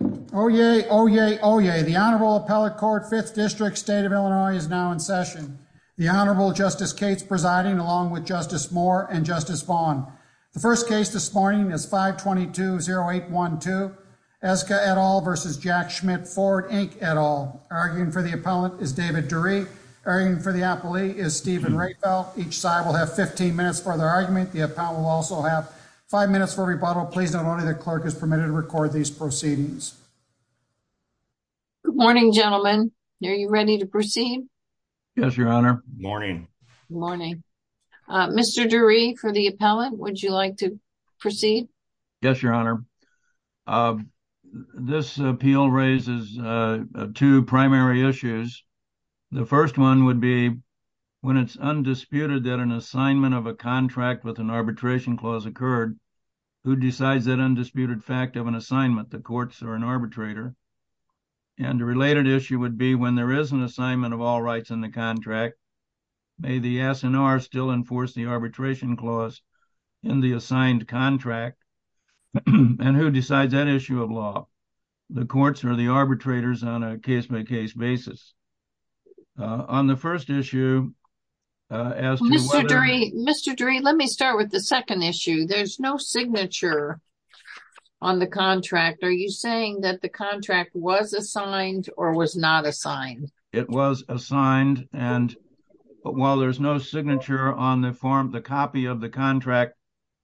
Oyez, oyez, oyez. The Honorable Appellate Court, Fifth District, State of Illinois is now in session. The Honorable Justice Cates presiding along with Justice Moore and Justice Vaughn. The first case this morning is 522-0812, Eska et al. v. Jack Schmitt Ford, Inc. et al. Arguing for the appellant is David Dury. Arguing for the appellee is Stephen Rehfeld. Each side will have 15 minutes for their argument. The appellant will also have five minutes for rebuttal. Please note only the clerk is permitted to record these proceedings. Good morning, gentlemen. Are you ready to proceed? Yes, Your Honor. Morning. Morning. Mr. Dury, for the appellant, would you like to proceed? Yes, Your Honor. This appeal raises two primary issues. The first one would be when it's undisputed that an assignment of a contract with an arbitration clause occurred, who decides that undisputed fact of an assignment? The courts or an arbitrator. And a related issue would be when there is an assignment of all rights in the contract, may the S&R still enforce the arbitration clause in the assigned contract? And who decides that issue of law? The courts or the arbitrators on a case-by-case basis. On the first issue, as to— Mr. Dury, let me start with the second issue. There's no signature on the contract. Are you saying that the contract was assigned or was not assigned? It was assigned. And while there's no signature on the form, the copy of the contract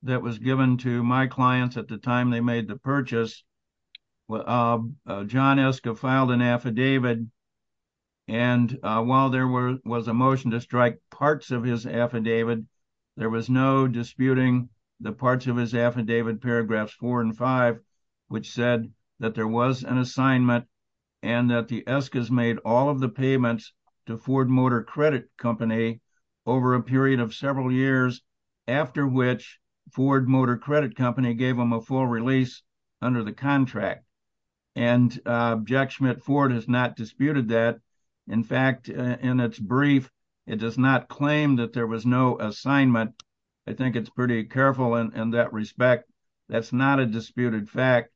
that was given to my clients at the time they made the purchase, John Eska filed an affidavit. And while there was a motion to strike parts of his affidavit, there was no disputing the parts of his affidavit, paragraphs four and five, which said that there was an assignment and that the Eskas made all of the payments to Ford Motor Credit Company over a period of several years, after which Ford Motor Credit Company gave him a full release under the contract. And Jack in fact, in its brief, it does not claim that there was no assignment. I think it's pretty careful in that respect. That's not a disputed fact.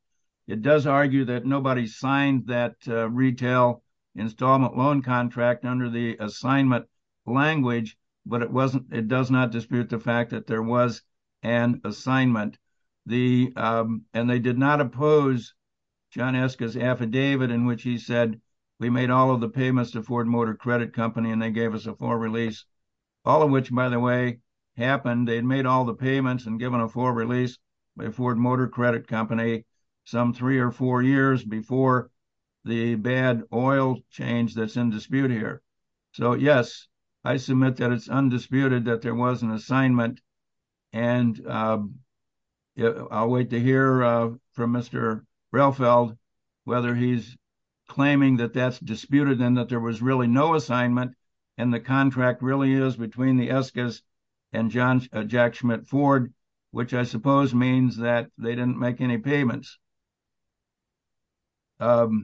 It does argue that nobody signed that retail installment loan contract under the assignment language, but it does not dispute the fact that there was an assignment. And they did not oppose John Eska's affidavit in which he made all of the payments to Ford Motor Credit Company and they gave us a full release, all of which, by the way, happened. They'd made all the payments and given a full release by Ford Motor Credit Company some three or four years before the bad oil change that's in dispute here. So yes, I submit that it's undisputed that there was an assignment. And I'll wait to hear from Mr. Relfeld whether he's claiming that that's disputed and that there was really no assignment and the contract really is between the Eskas and Jack Schmidt Ford, which I suppose means that they didn't make any payments. The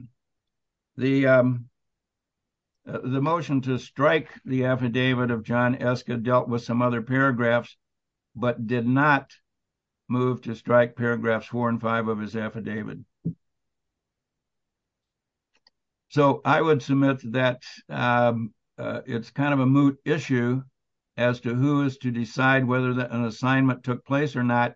motion to strike the affidavit of John Eska dealt with some other paragraphs, but did not move to strike paragraphs four and five of his affidavit. So I would submit that it's kind of a moot issue as to who is to decide whether an assignment took place or not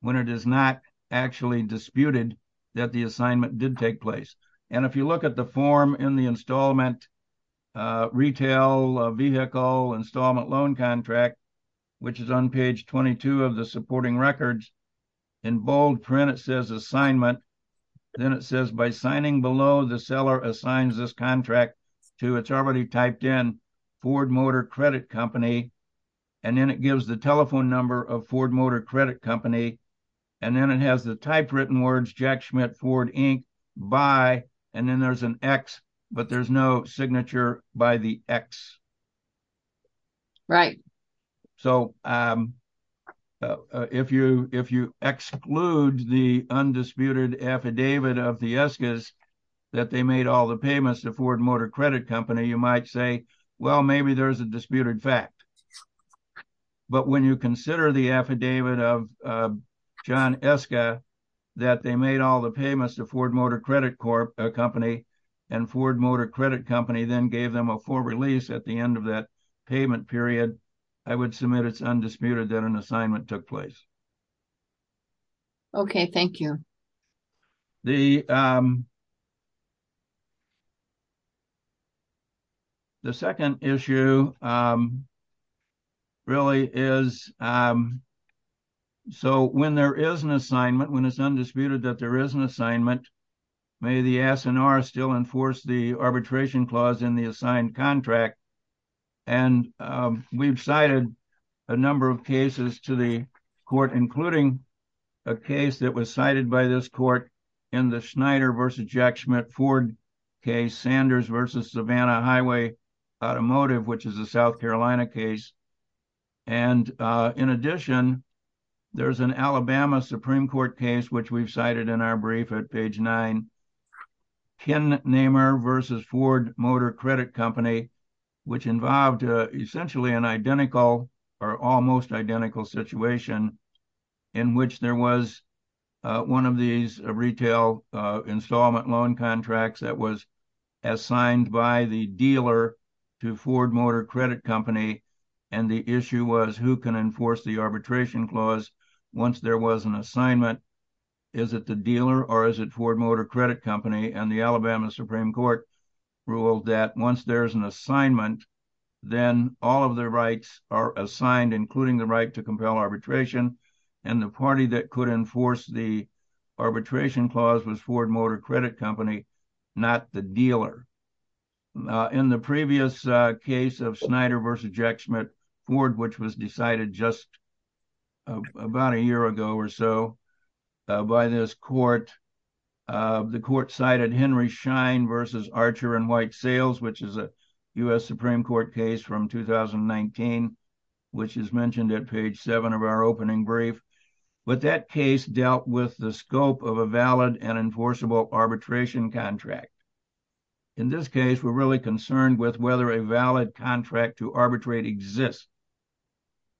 when it is not actually disputed that the assignment did take place. And if you look at the form in the installment retail vehicle installment loan contract, which is on page 22 of the supporting records, in bold print it says assignment. Then it says by signing below the seller assigns this contract to, it's already typed in, Ford Motor Credit Company. And then it gives the telephone number of Ford Motor Credit Company. And then it has the type written words Jack Schmidt Ford Inc. by, and then there's an X, but there's no signature by the X. Right. So if you exclude the undisputed affidavit of the Eskas that they made all the payments to Ford Motor Credit Company, you might say, well, maybe there's a disputed fact. But when you consider the affidavit of John Eska that they made all the payments to Ford Motor Credit Company and Ford Motor Credit Company then gave them a full release at the end of that payment period, I would submit it's undisputed that an assignment took place. Okay. Thank you. The second issue really is, so when there is an assignment, when it's undisputed that there is an assignment, may the S&R still enforce the arbitration clause in the assigned contract. And we've cited a number of cases to the court, including a case that was cited by this court in the Schneider versus Jack Schmidt Ford case, Sanders versus Savannah Highway Automotive, which is a South Carolina case. And in addition, there's an Alabama Supreme Court case, which we've cited in our brief at page nine, Ken Nehmer versus Ford Motor Credit Company, which involved essentially an identical or almost identical situation in which there was one of these retail installment loan contracts that was assigned by the dealer to Ford Motor Credit Company. And the issue was who can enforce the arbitration clause once there was an assignment is it the dealer or is it Ford Motor Credit Company? And the Alabama Supreme Court ruled that once there's an assignment, then all of the rights are assigned, including the right to compel arbitration. And the party that could enforce the arbitration clause was Ford Motor Credit Company, not the dealer. In the previous case of Schneider versus Jack Schmidt Ford, which was decided just about a year ago or so by this court, the court cited Henry Shine versus Archer and White Sales, which is a US Supreme Court case from 2019, which is mentioned at page seven of our opening brief. But that case dealt with the scope of a valid and enforceable arbitration contract. In this case, we're really concerned with whether a valid contract to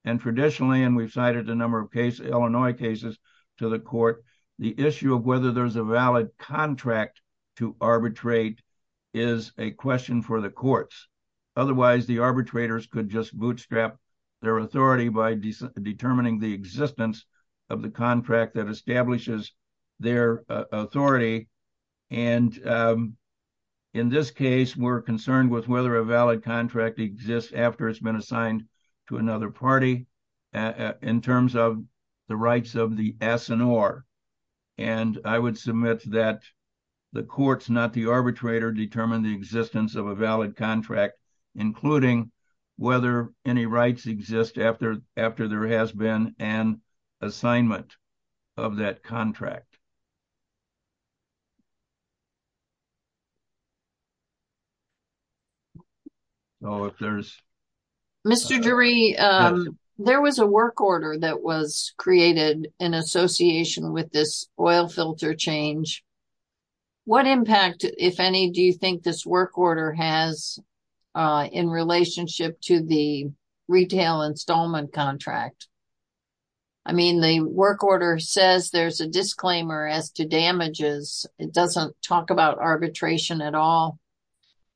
and traditionally, and we've cited a number of cases, Illinois cases to the court, the issue of whether there's a valid contract to arbitrate is a question for the courts. Otherwise, the arbitrators could just bootstrap their authority by determining the existence of the contract that establishes their authority. And in this case, we're concerned with whether a valid contract exists after it's been assigned to another party in terms of the rights of the S&R. And I would submit that the courts, not the arbitrator, determine the existence of a valid contract, including whether any rights exist after there has been an assignment of that contract. Oh, if there's Mr. Drury, there was a work order that was created in association with this oil filter change. What impact, if any, do you think this work order has in relationship to the retail installment contract? I mean, the work order says there's a disclaimer as to damages. It doesn't talk about arbitration at all.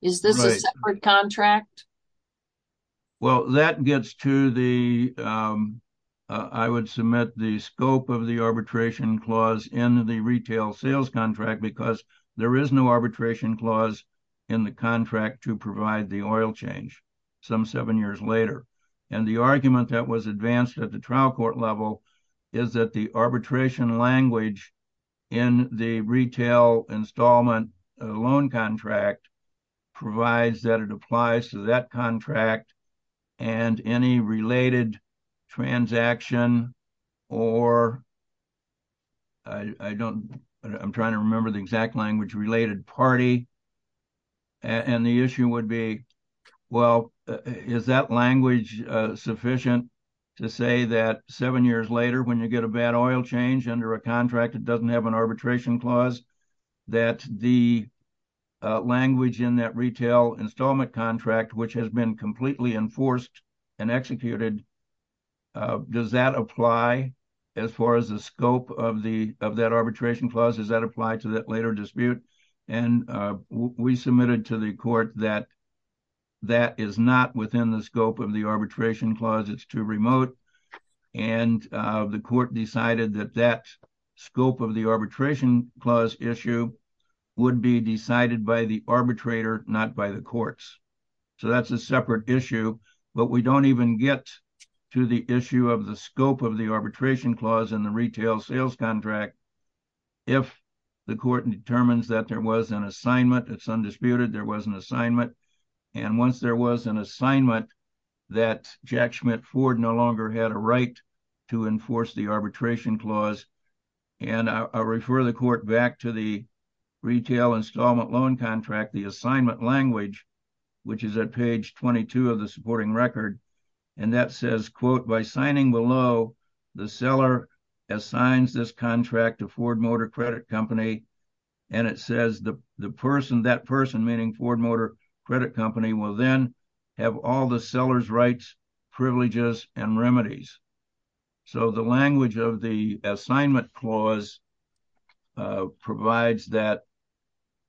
Is this a separate contract? Well, that gets to the, I would submit the scope of the arbitration clause in the retail sales contract because there is no arbitration clause in the contract to provide the oil change some seven years later. And the argument that was advanced at the trial court level is that the arbitration language in the retail installment loan contract provides that it applies to that contract and any related transaction or I don't, I'm trying to remember the exact language related party. And the issue would be, well, is that language sufficient to say that seven years later when you get a bad oil change under a contract that doesn't have an arbitration clause, that the language in that retail installment contract, which has been completely enforced and executed, does that apply as far as the scope of that arbitration clause? Does that apply to that later dispute? And we submitted to the court that that is not within the scope of the arbitration clause. It's too remote. And the court decided that that scope of the arbitration clause issue would be decided by the arbitrator, not by the court. So that's a separate issue. But we don't even get to the issue of the scope of the arbitration clause in the retail sales contract. If the court determines that there was an assignment, it's undisputed there was an assignment. And once there was an assignment that Jack Schmidt Ford no longer had a right to enforce the arbitration clause. And I refer the court back to the retail installment contract, the assignment language, which is at page 22 of the supporting record. And that says, quote, by signing below, the seller assigns this contract to Ford Motor Credit Company. And it says that person, meaning Ford Motor Credit Company, will then have all the seller's rights, privileges, and remedies. So the language of the assignment clause provides that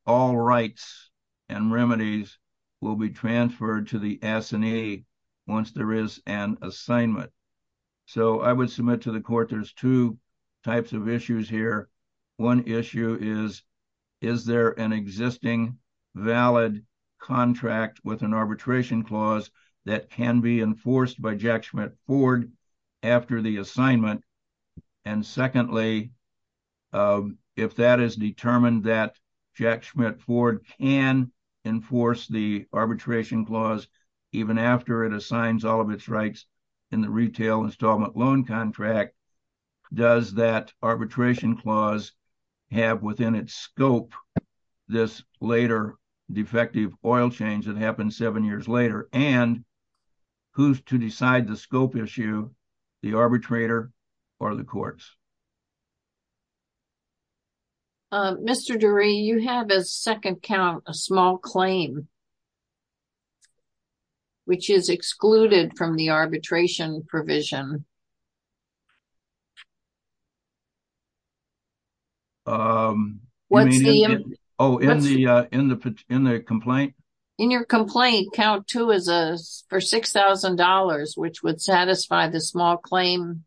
all rights and remedies will be transferred to the S&A once there is an assignment. So I would submit to the court there's two types of issues here. One issue is, is there an existing valid contract with an arbitration clause that can be enforced by Jack Schmidt Ford after the assignment? And secondly, if that is determined that Jack Schmidt Ford can enforce the arbitration clause even after it assigns all of its rights in the retail installment loan contract, does that arbitration clause have within its scope this later defective oil change that the arbitrator or the courts? Mr. Durie, you have a second count, a small claim, which is excluded from the arbitration provision. Oh, in the complaint? In your complaint, count two is for $6,000, which would satisfy the small claim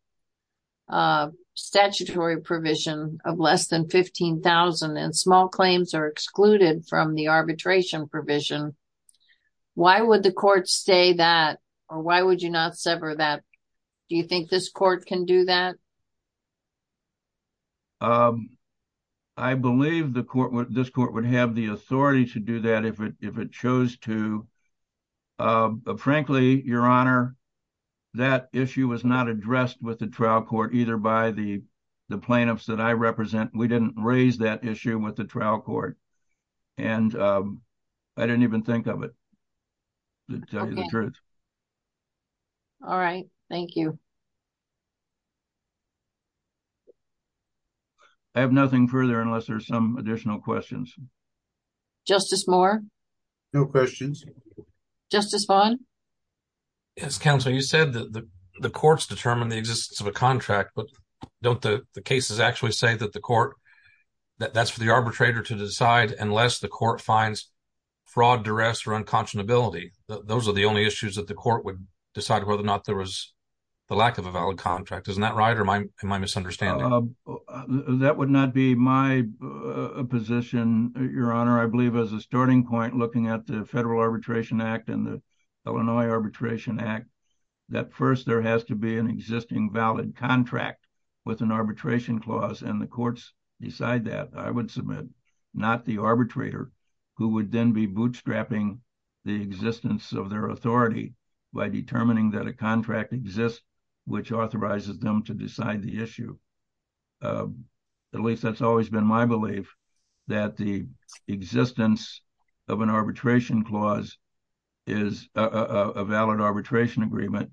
statutory provision of less than $15,000. And small claims are excluded from the arbitration provision. Why would the court say that? Or why would you not sever that? Do you think this court can do that? I believe the court, this court would have the authority to do that if it chose to. But frankly, Your Honor, that issue was not addressed with the trial court either by the plaintiffs that I represent. We did not raise that issue with the trial court. And I did not even think of it, to tell you the truth. All right. Thank you. I have nothing further unless there are some additional questions. Justice Moore? No questions. Justice Vaughn? Yes, Counsel, you said that the courts determine the existence of a contract, but don't the cases actually say that the court, that that's for the arbitrator to decide unless the court finds fraud, duress, or unconscionability? Those are the only issues that the court would decide whether or not there was the lack of a valid contract. Isn't that right? Or am I Your Honor, I believe as a starting point looking at the Federal Arbitration Act and the Illinois Arbitration Act, that first there has to be an existing valid contract with an arbitration clause and the courts decide that. I would submit not the arbitrator who would then be bootstrapping the existence of their authority by determining that a contract exists which authorizes them to decide the issue. At least that's always been my belief. The existence of an arbitration clause is a valid arbitration agreement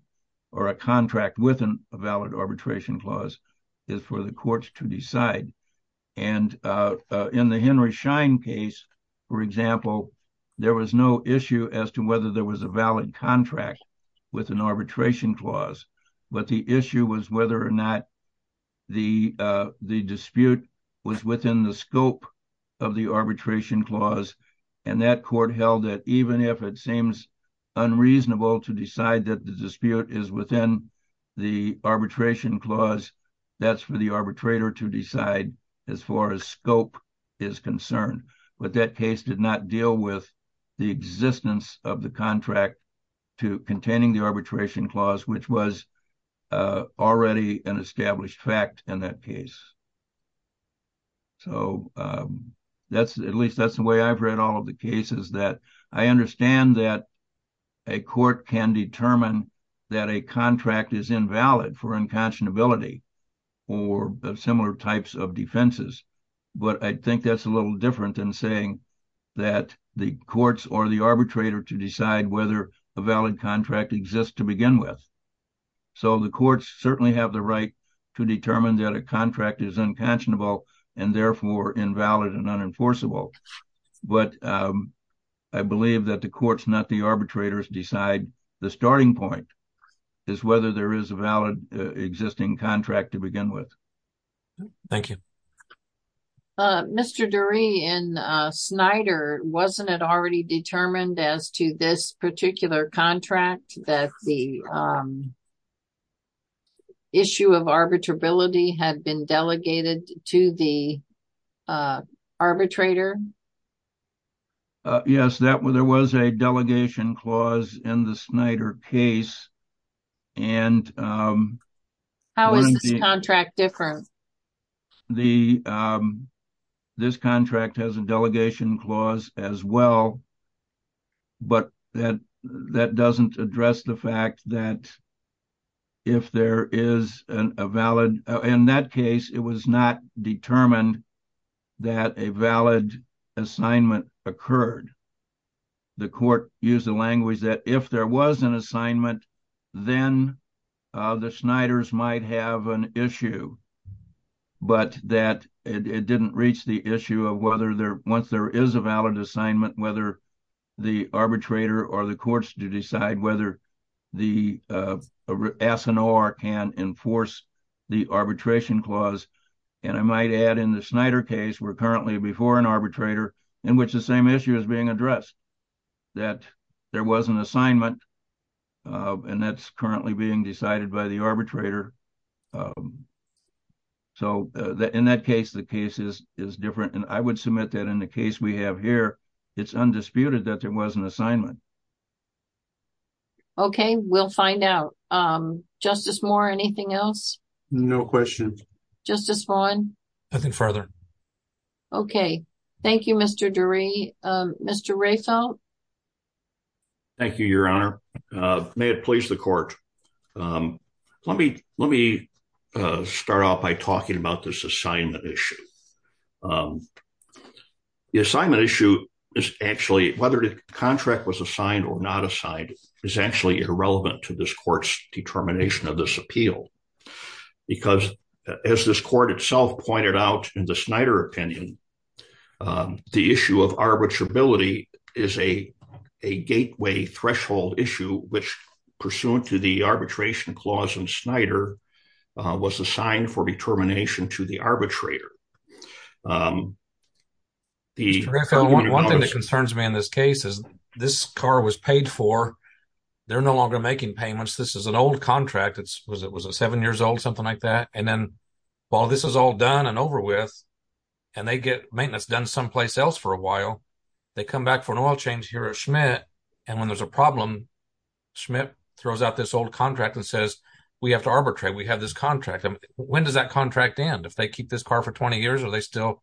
or a contract with a valid arbitration clause is for the courts to decide. In the Henry Schein case, for example, there was no issue as to whether there was a valid contract with an arbitration clause. But the issue was whether or not the dispute was within the scope of the arbitration clause. And that court held that even if it seems unreasonable to decide that the dispute is within the arbitration clause, that's for the arbitrator to decide as far as scope is concerned. But that case did not deal with the existence of the contract to containing the arbitration clause which was already an established fact in that case. So, at least that's the way I've read all of the cases that I understand that a court can determine that a contract is invalid for that the courts or the arbitrator to decide whether a valid contract exists to begin with. So, the courts certainly have the right to determine that a contract is unconscionable and therefore invalid and unenforceable. But I believe that the courts, not the arbitrators, decide the starting point is whether there is a valid existing contract to begin with. Thank you. Mr. Durie, in Snyder, wasn't it already determined as to this particular contract that the issue of arbitrability had been delegated to the arbitrator? Yes, there was a delegation clause in the Snyder case. How is this contract different? This contract has a delegation clause as well, but that doesn't address the fact that if there is a valid, in that case, it was not determined that a valid assignment occurred. The court used the language that if there was an assignment, then the Snyders might have an issue. But it didn't reach the issue of whether, once there is a valid assignment, whether the arbitrator or the courts to decide whether the S&R can enforce the arbitration clause. And I might add in the Snyder case, we're currently before an arbitrator in which the same issue is being addressed, that there was an assignment, and that's currently being decided by the arbitrator. So, in that case, the case is different. And I would submit that in the case we have here, it's undisputed that there was an assignment. Okay, we'll find out. Justice Moore, anything else? No questions. Justice Vaughn? Nothing further. Okay. Thank you, Mr. Durey. Mr. Rafel? Thank you, Your Honor. May it please the court. Let me start off by talking about this assignment issue. The assignment issue is actually, whether the contract was assigned or not assigned, is actually irrelevant to this court's determination of this appeal. Because as this court itself pointed out in the Snyder opinion, the issue of arbitrability is a gateway threshold issue, which pursuant to the arbitration clause in Snyder, was assigned for determination to the arbitrator. One thing that concerns me in this case is this car was paid for, they're no longer making payments. This is an old contract. It was a seven years old, something like that. And then while this is all done and over with, and they get maintenance done someplace else for a while, they come back for an oil change here at Schmidt. And when there's a problem, Schmidt throws out this old contract and says, we have to arbitrate. We have this contract. When does that contract end? If they keep this car for 20 years, are they still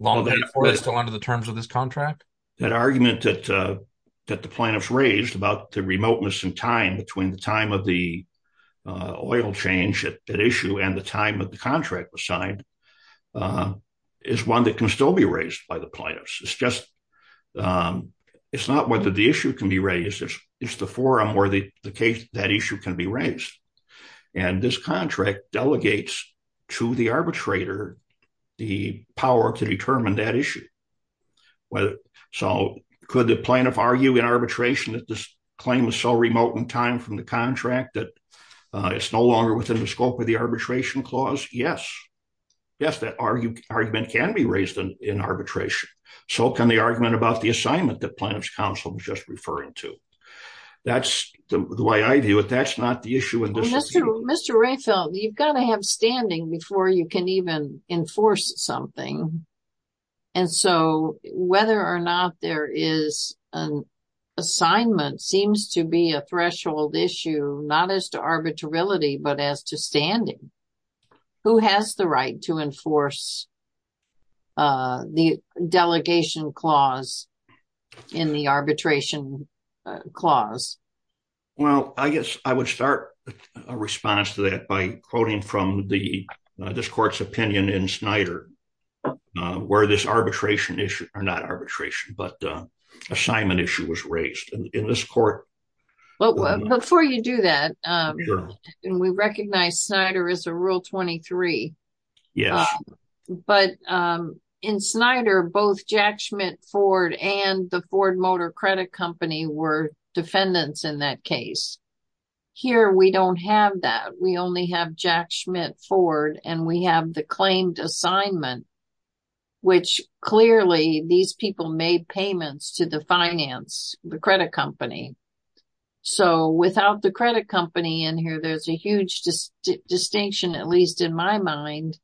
long before they're still under the terms of this contract? That argument that the plaintiffs raised about the remoteness in time between the time of the oil change at issue and the time of the contract was signed, is one that can still be raised by the plaintiffs. It's not whether the issue can be raised, it's the forum where that issue can be raised. And this contract delegates to the arbitrator the power to determine that issue. So could the plaintiff argue in arbitration that this claim is so remote in time from the contract that it's no longer within the scope of the arbitration clause? Yes. Yes, that argument can be raised in arbitration. So can the argument about the assignment that plaintiff's counsel was just referring to. That's the way I view it. That's not the issue. Mr. Rehfeld, you've got to have standing before you can even enforce something. And so whether or not there is an assignment seems to be a threshold issue, not as to arbitrarility, but as to standing. Who has the right to enforce the delegation clause in the arbitration clause? Well, I guess I would start a response to that by quoting from this court's opinion in Snyder, where this arbitration issue, not arbitration, but assignment issue was raised in this court. Before you do that, we recognize Snyder is a but in Snyder, both Jack Schmidt Ford and the Ford Motor Credit Company were defendants in that case. Here, we don't have that. We only have Jack Schmidt Ford and we have the claimed assignment, which clearly these people made payments to the finance, the credit company. So without the credit company in here, there's a huge distinction, at least in my mind,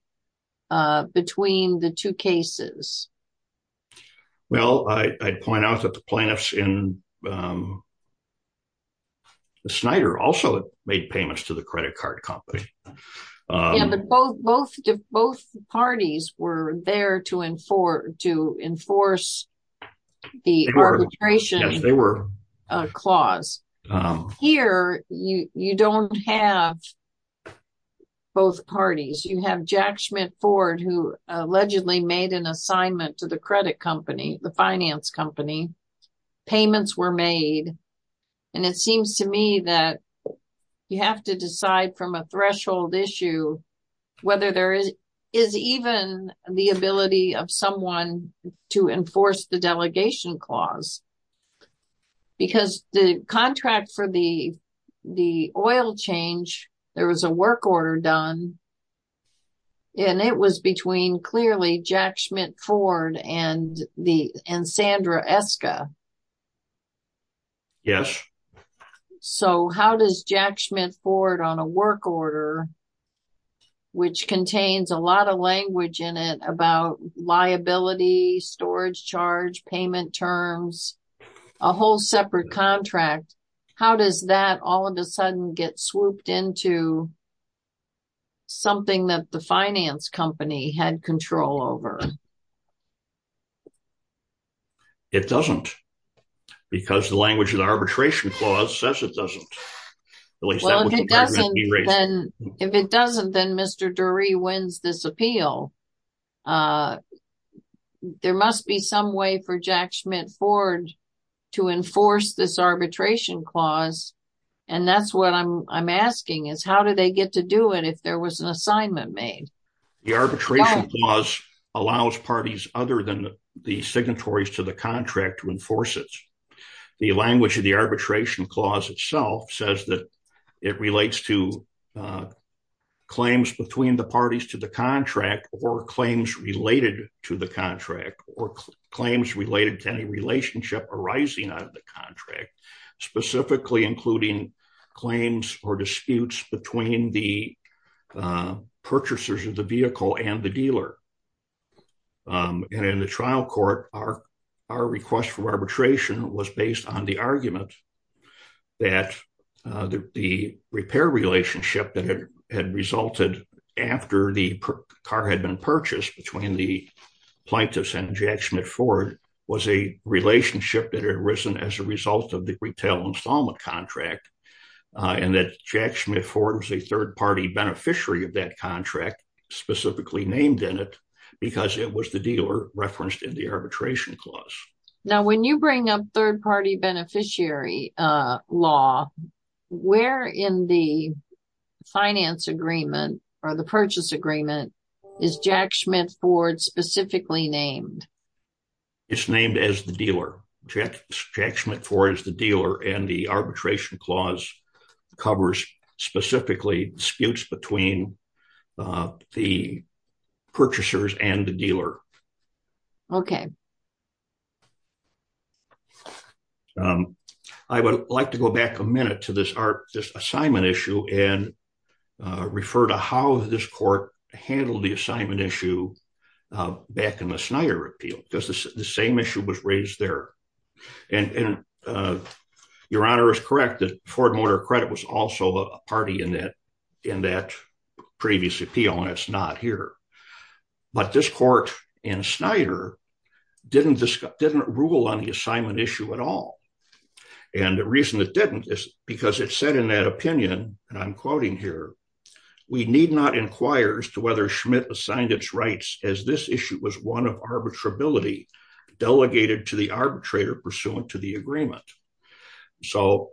between the two cases. Well, I'd point out that the plaintiffs in the Snyder also made payments to the credit card company. Yeah, but both parties were there to enforce the arbitration clause. Here, you don't have to enforce both parties. You have Jack Schmidt Ford, who allegedly made an assignment to the credit company, the finance company, payments were made. And it seems to me that you have to decide from a threshold issue, whether there is even the ability of someone to enforce the was a work order done. And it was between clearly Jack Schmidt Ford and Sandra Eska. Yes. So how does Jack Schmidt Ford on a work order, which contains a lot of language in it about liability, storage charge, payment terms, a whole separate contract, how does that all of a sudden get swooped into something that the finance company had control over? It doesn't, because the language of the arbitration clause says it doesn't. If it doesn't, then Mr. Durie wins this appeal. There must be some way for Jack Schmidt Ford to enforce this arbitration clause. And that's what I'm asking is how do they get to do it if there was an assignment made? The arbitration clause allows parties other than the signatories to the contract to enforce it. The language of the arbitration clause itself says that it relates to claims between the parties to the contract or claims related to the contract or claims related to any relationship arising out of the contract, specifically including claims or disputes between the purchasers of the vehicle and the dealer. And in the trial court, our request for arbitration was based on the argument that the repair relationship that had resulted after the car had been purchased between the plaintiffs and Jack Schmidt Ford was a relationship that had arisen as a result of the retail installment contract and that Jack Schmidt Ford was a third party beneficiary of that contract specifically named in it because it was the dealer referenced in the arbitration clause. Now when you bring up third party beneficiary law, where in the finance agreement or the purchase agreement is Jack Schmidt Ford specifically named? It's named as the dealer. Jack Schmidt Ford is the dealer and the arbitration clause covers specifically disputes between the purchasers and the dealer. Okay. I would like to go back a minute to this assignment issue and refer to how this court handled the assignment issue back in the Snyder appeal because the same issue was raised there. And your honor is correct that Ford Motor Credit was also a party in that previous appeal and it's not here. But this court in Snyder didn't rule on the assignment issue at all. And the reason it didn't is because it said in that opinion, and I'm quoting here, we need not inquire as to whether Schmidt assigned its rights as this issue was one of arbitrability delegated to the arbitrator pursuant to the agreement. So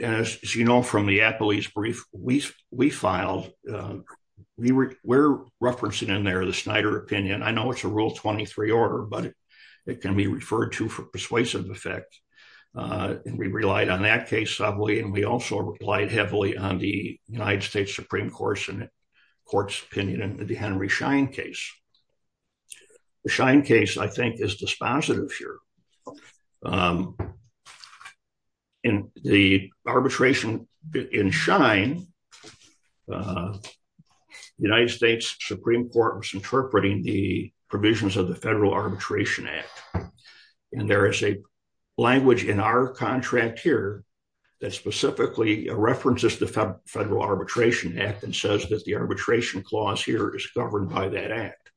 as you know from the appellee's brief we filed, we're referencing in there the Snyder opinion. I know it's a rule 23 order, but it can be referred to for persuasive effect. And we relied on that case heavily. And we also replied heavily on the United States Supreme Court's opinion in the Henry Schein case. The Schein case, I think, is dispositive here. In the arbitration in Schein, the United States Supreme Court was interpreting the provisions of the Federal Arbitration Act. And there is a language in our contract here that specifically references the Federal Arbitration Act and says that the arbitration clause here is governed by that act.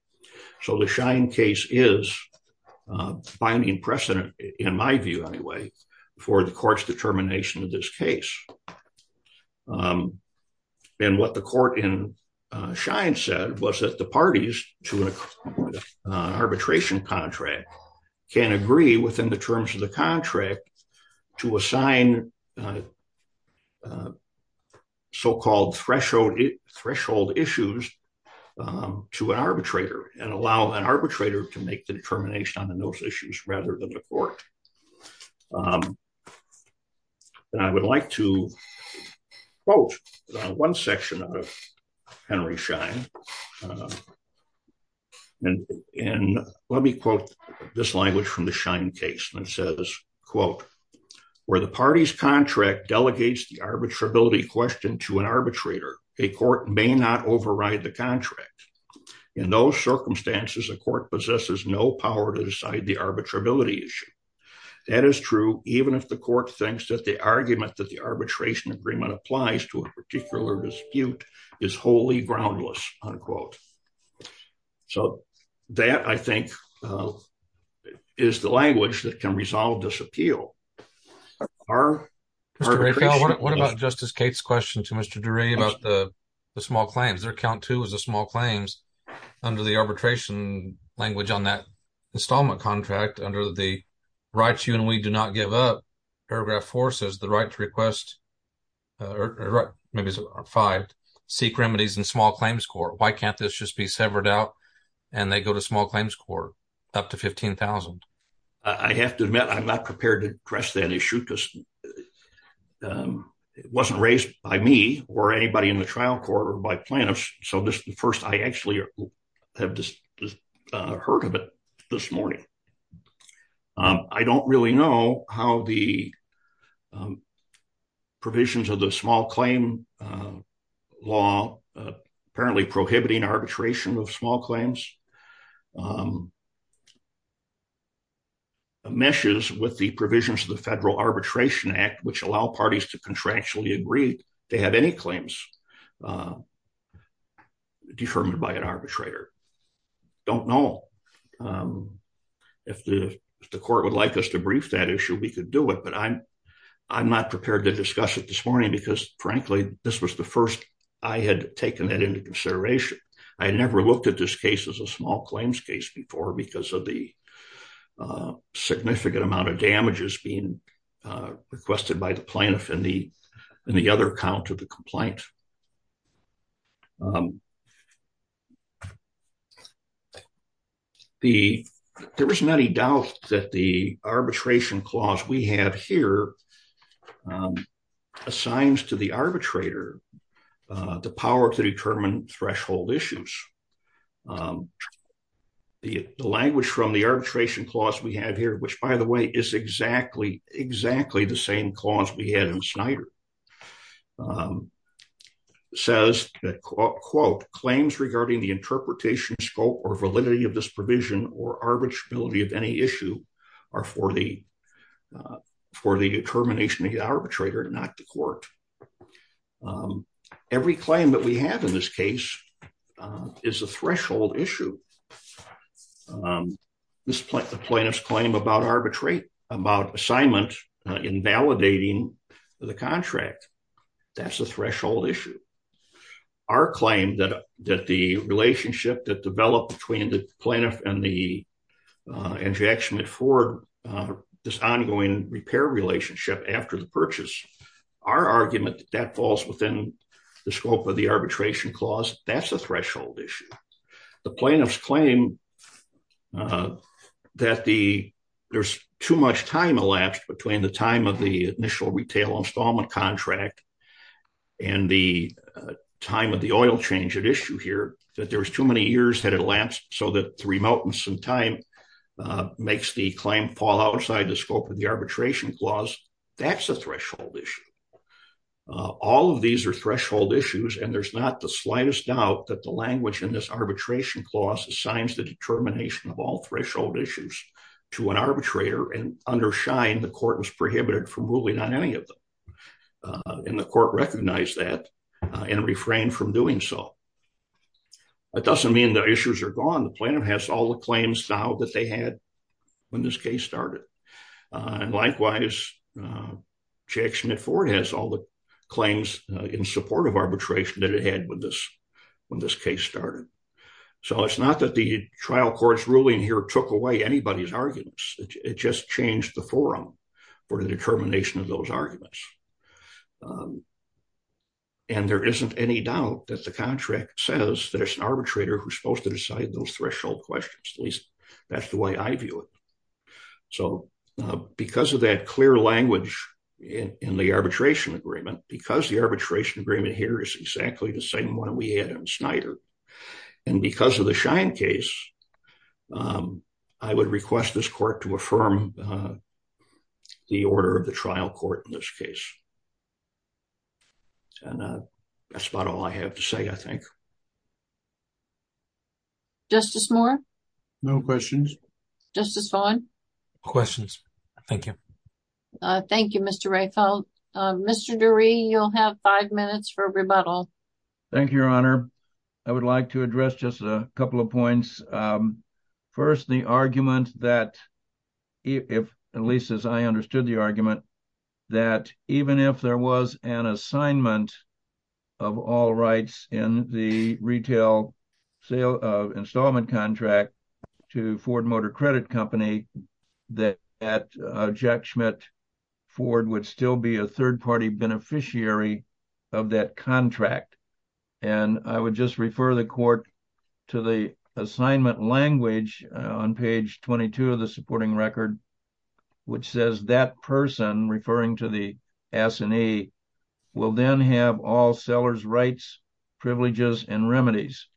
So the Schein case is binding precedent, in my view, anyway, for the court's determination of this case. And what the court in Schein said was that the parties to an arbitration contract can agree within the terms of the contract to assign so-called threshold issues to an arbitrator and allow an arbitrator to make the determination on those issues rather than the court. And I would like to quote one section of Henry Schein. And let me quote this language from the Schein case that says, quote, where the party's contract delegates the arbitrability question to an arbitrator, a court may not override the contract. In those circumstances, a court possesses no power to decide the arbitrability issue. That is true, even if the court thinks that the argument that arbitration agreement applies to a particular dispute is wholly groundless, unquote. So that, I think, is the language that can resolve this appeal. Mr. Duray, what about Justice Cates' question to Mr. Duray about the small claims? Their count two is the small claims under the arbitration language on that installment contract under the rights you and we do not give up. Paragraph four says the right to request or maybe five, seek remedies in small claims court. Why can't this just be severed out and they go to small claims court up to 15,000? I have to admit, I'm not prepared to address that issue because it wasn't raised by me or anybody in the trial court or by plaintiffs. So this is the first I actually have heard of it this morning. I don't really know how the provisions of the small claim law apparently prohibiting arbitration of small claims meshes with the provisions of the Federal Arbitration Act, which allow parties to arbitrate. I don't know. If the court would like us to brief that issue, we could do it. But I'm not prepared to discuss it this morning because, frankly, this was the first I had taken that into consideration. I had never looked at this case as a small claims case before because of the significant amount of damages being requested by the plaintiff in the other account of the complaint. There isn't any doubt that the arbitration clause we have here assigns to the arbitrator the power to determine threshold issues. The language from the arbitration clause we have here, which, by the way, is exactly, exactly the same clause we had in Snyder, says that, quote, claims regarding the interpretation scope or validity of this provision or arbitrability of any issue are for the determination of the arbitrator, not the court. Every claim that we have in this case is a threshold issue. At this point, the plaintiff's claim about assignment invalidating the contract, that's a threshold issue. Our claim that the relationship that developed between the plaintiff and the injection for this ongoing repair relationship after the purchase, our argument that that falls within the scope of the arbitration clause, that's a threshold issue. The plaintiff's claim that there's too much time elapsed between the time of the initial retail installment contract and the time of the oil change at issue here, that there was too many years had elapsed so that three mountains in time makes the claim fall outside the scope of the arbitration clause, that's a threshold issue. All of these are threshold issues, and there's not the slightest doubt that the language in this arbitration clause assigns the determination of all threshold issues to an arbitrator, and under Schein, the court was prohibited from ruling on any of them. And the court recognized that and refrained from doing so. That doesn't mean the issues are gone. The plaintiff has all the claims now that they had when this case started. And likewise, Jack Schmidt Ford has all the claims in support of arbitration that it had when this case started. So it's not that the trial court's ruling here took away anybody's arguments, it just changed the forum for the determination of those arguments. And there isn't any doubt that the contract says there's an arbitrator who's supposed to be a trial court. And I view it. So because of that clear language in the arbitration agreement, because the arbitration agreement here is exactly the same one we had in Schneider, and because of the Schein case, I would request this court to affirm the order of the trial court in this case. And that's about all I have to say, I think. Justice Moore? No questions. Justice Vaughn? No questions. Thank you. Thank you, Mr. Reichelt. Mr. Dury, you'll have five minutes for rebuttal. Thank you, Your Honor. I would like to address just a couple of points. First, the argument that, at least as I understood the argument, that even if there was an assignment of all rights in the sale of an installment contract to Ford Motor Credit Company, that Jack Schmidt Ford would still be a third-party beneficiary of that contract. And I would just refer the court to the assignment language on page 22 of the supporting record, which says that person, referring to the S&E, will then have all seller's rights, privileges, and remedies.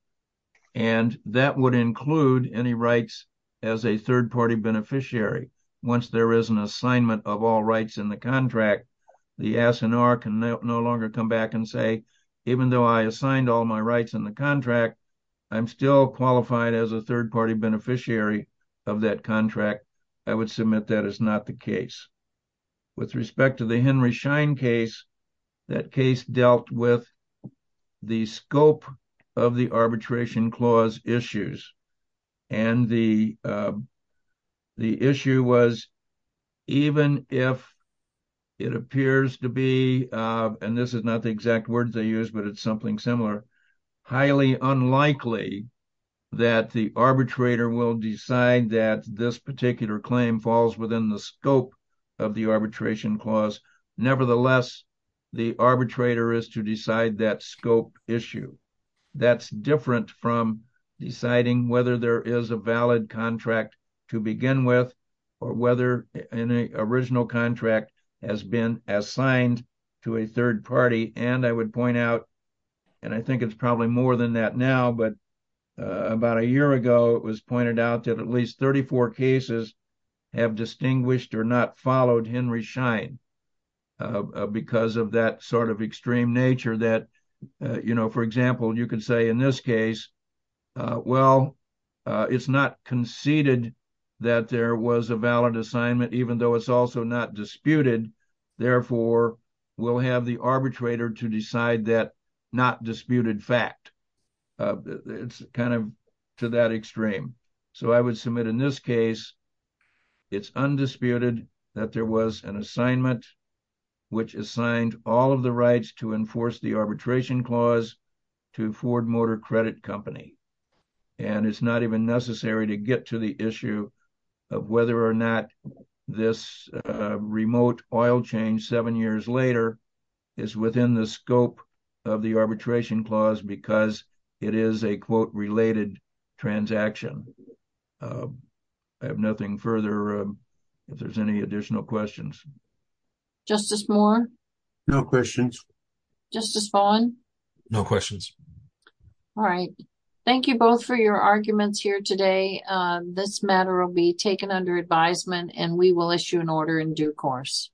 And that would include any rights as a third-party beneficiary. Once there is an assignment of all rights in the contract, the S&R can no longer come back and say, even though I assigned all my rights in the contract, I'm still qualified as a third-party beneficiary of that contract. I would submit that is not the case. With respect to the Henry Schein case, that case dealt with the scope of the arbitration clause issues. And the issue was, even if it appears to be, and this is not the exact words I used, but it's something similar, highly unlikely that the arbitrator will decide that this particular claim falls within the scope of the arbitration clause. Nevertheless, the arbitrator is to decide that scope issue. That's different from deciding whether there is a valid contract to begin with or whether an original contract has been assigned to a third party. And I would point out, and I think it's probably more than that now, but about a year ago, it was pointed out that at least 34 cases have distinguished or not followed Henry Schein because of that sort of extreme nature that, for example, you could say in this case, well, it's not conceded that there was a valid assignment, even though it's also not disputed. Therefore, we'll have the arbitrator to decide that not disputed fact. It's kind of to that extreme. So, I would submit in this case, it's undisputed that there was an assignment which assigned all of the rights to enforce the arbitration clause to Ford Motor Credit Company. And it's not even necessary to get to the issue of whether or not this remote oil change seven years later is within the scope of the arbitration clause because it is a, quote, related transaction. I have nothing further, if there's any additional questions. Justice Moore? No questions. Justice Vaughn? No questions. All right. Thank you both for your arguments here today. This matter will be taken under advisement and we will issue an order in due course.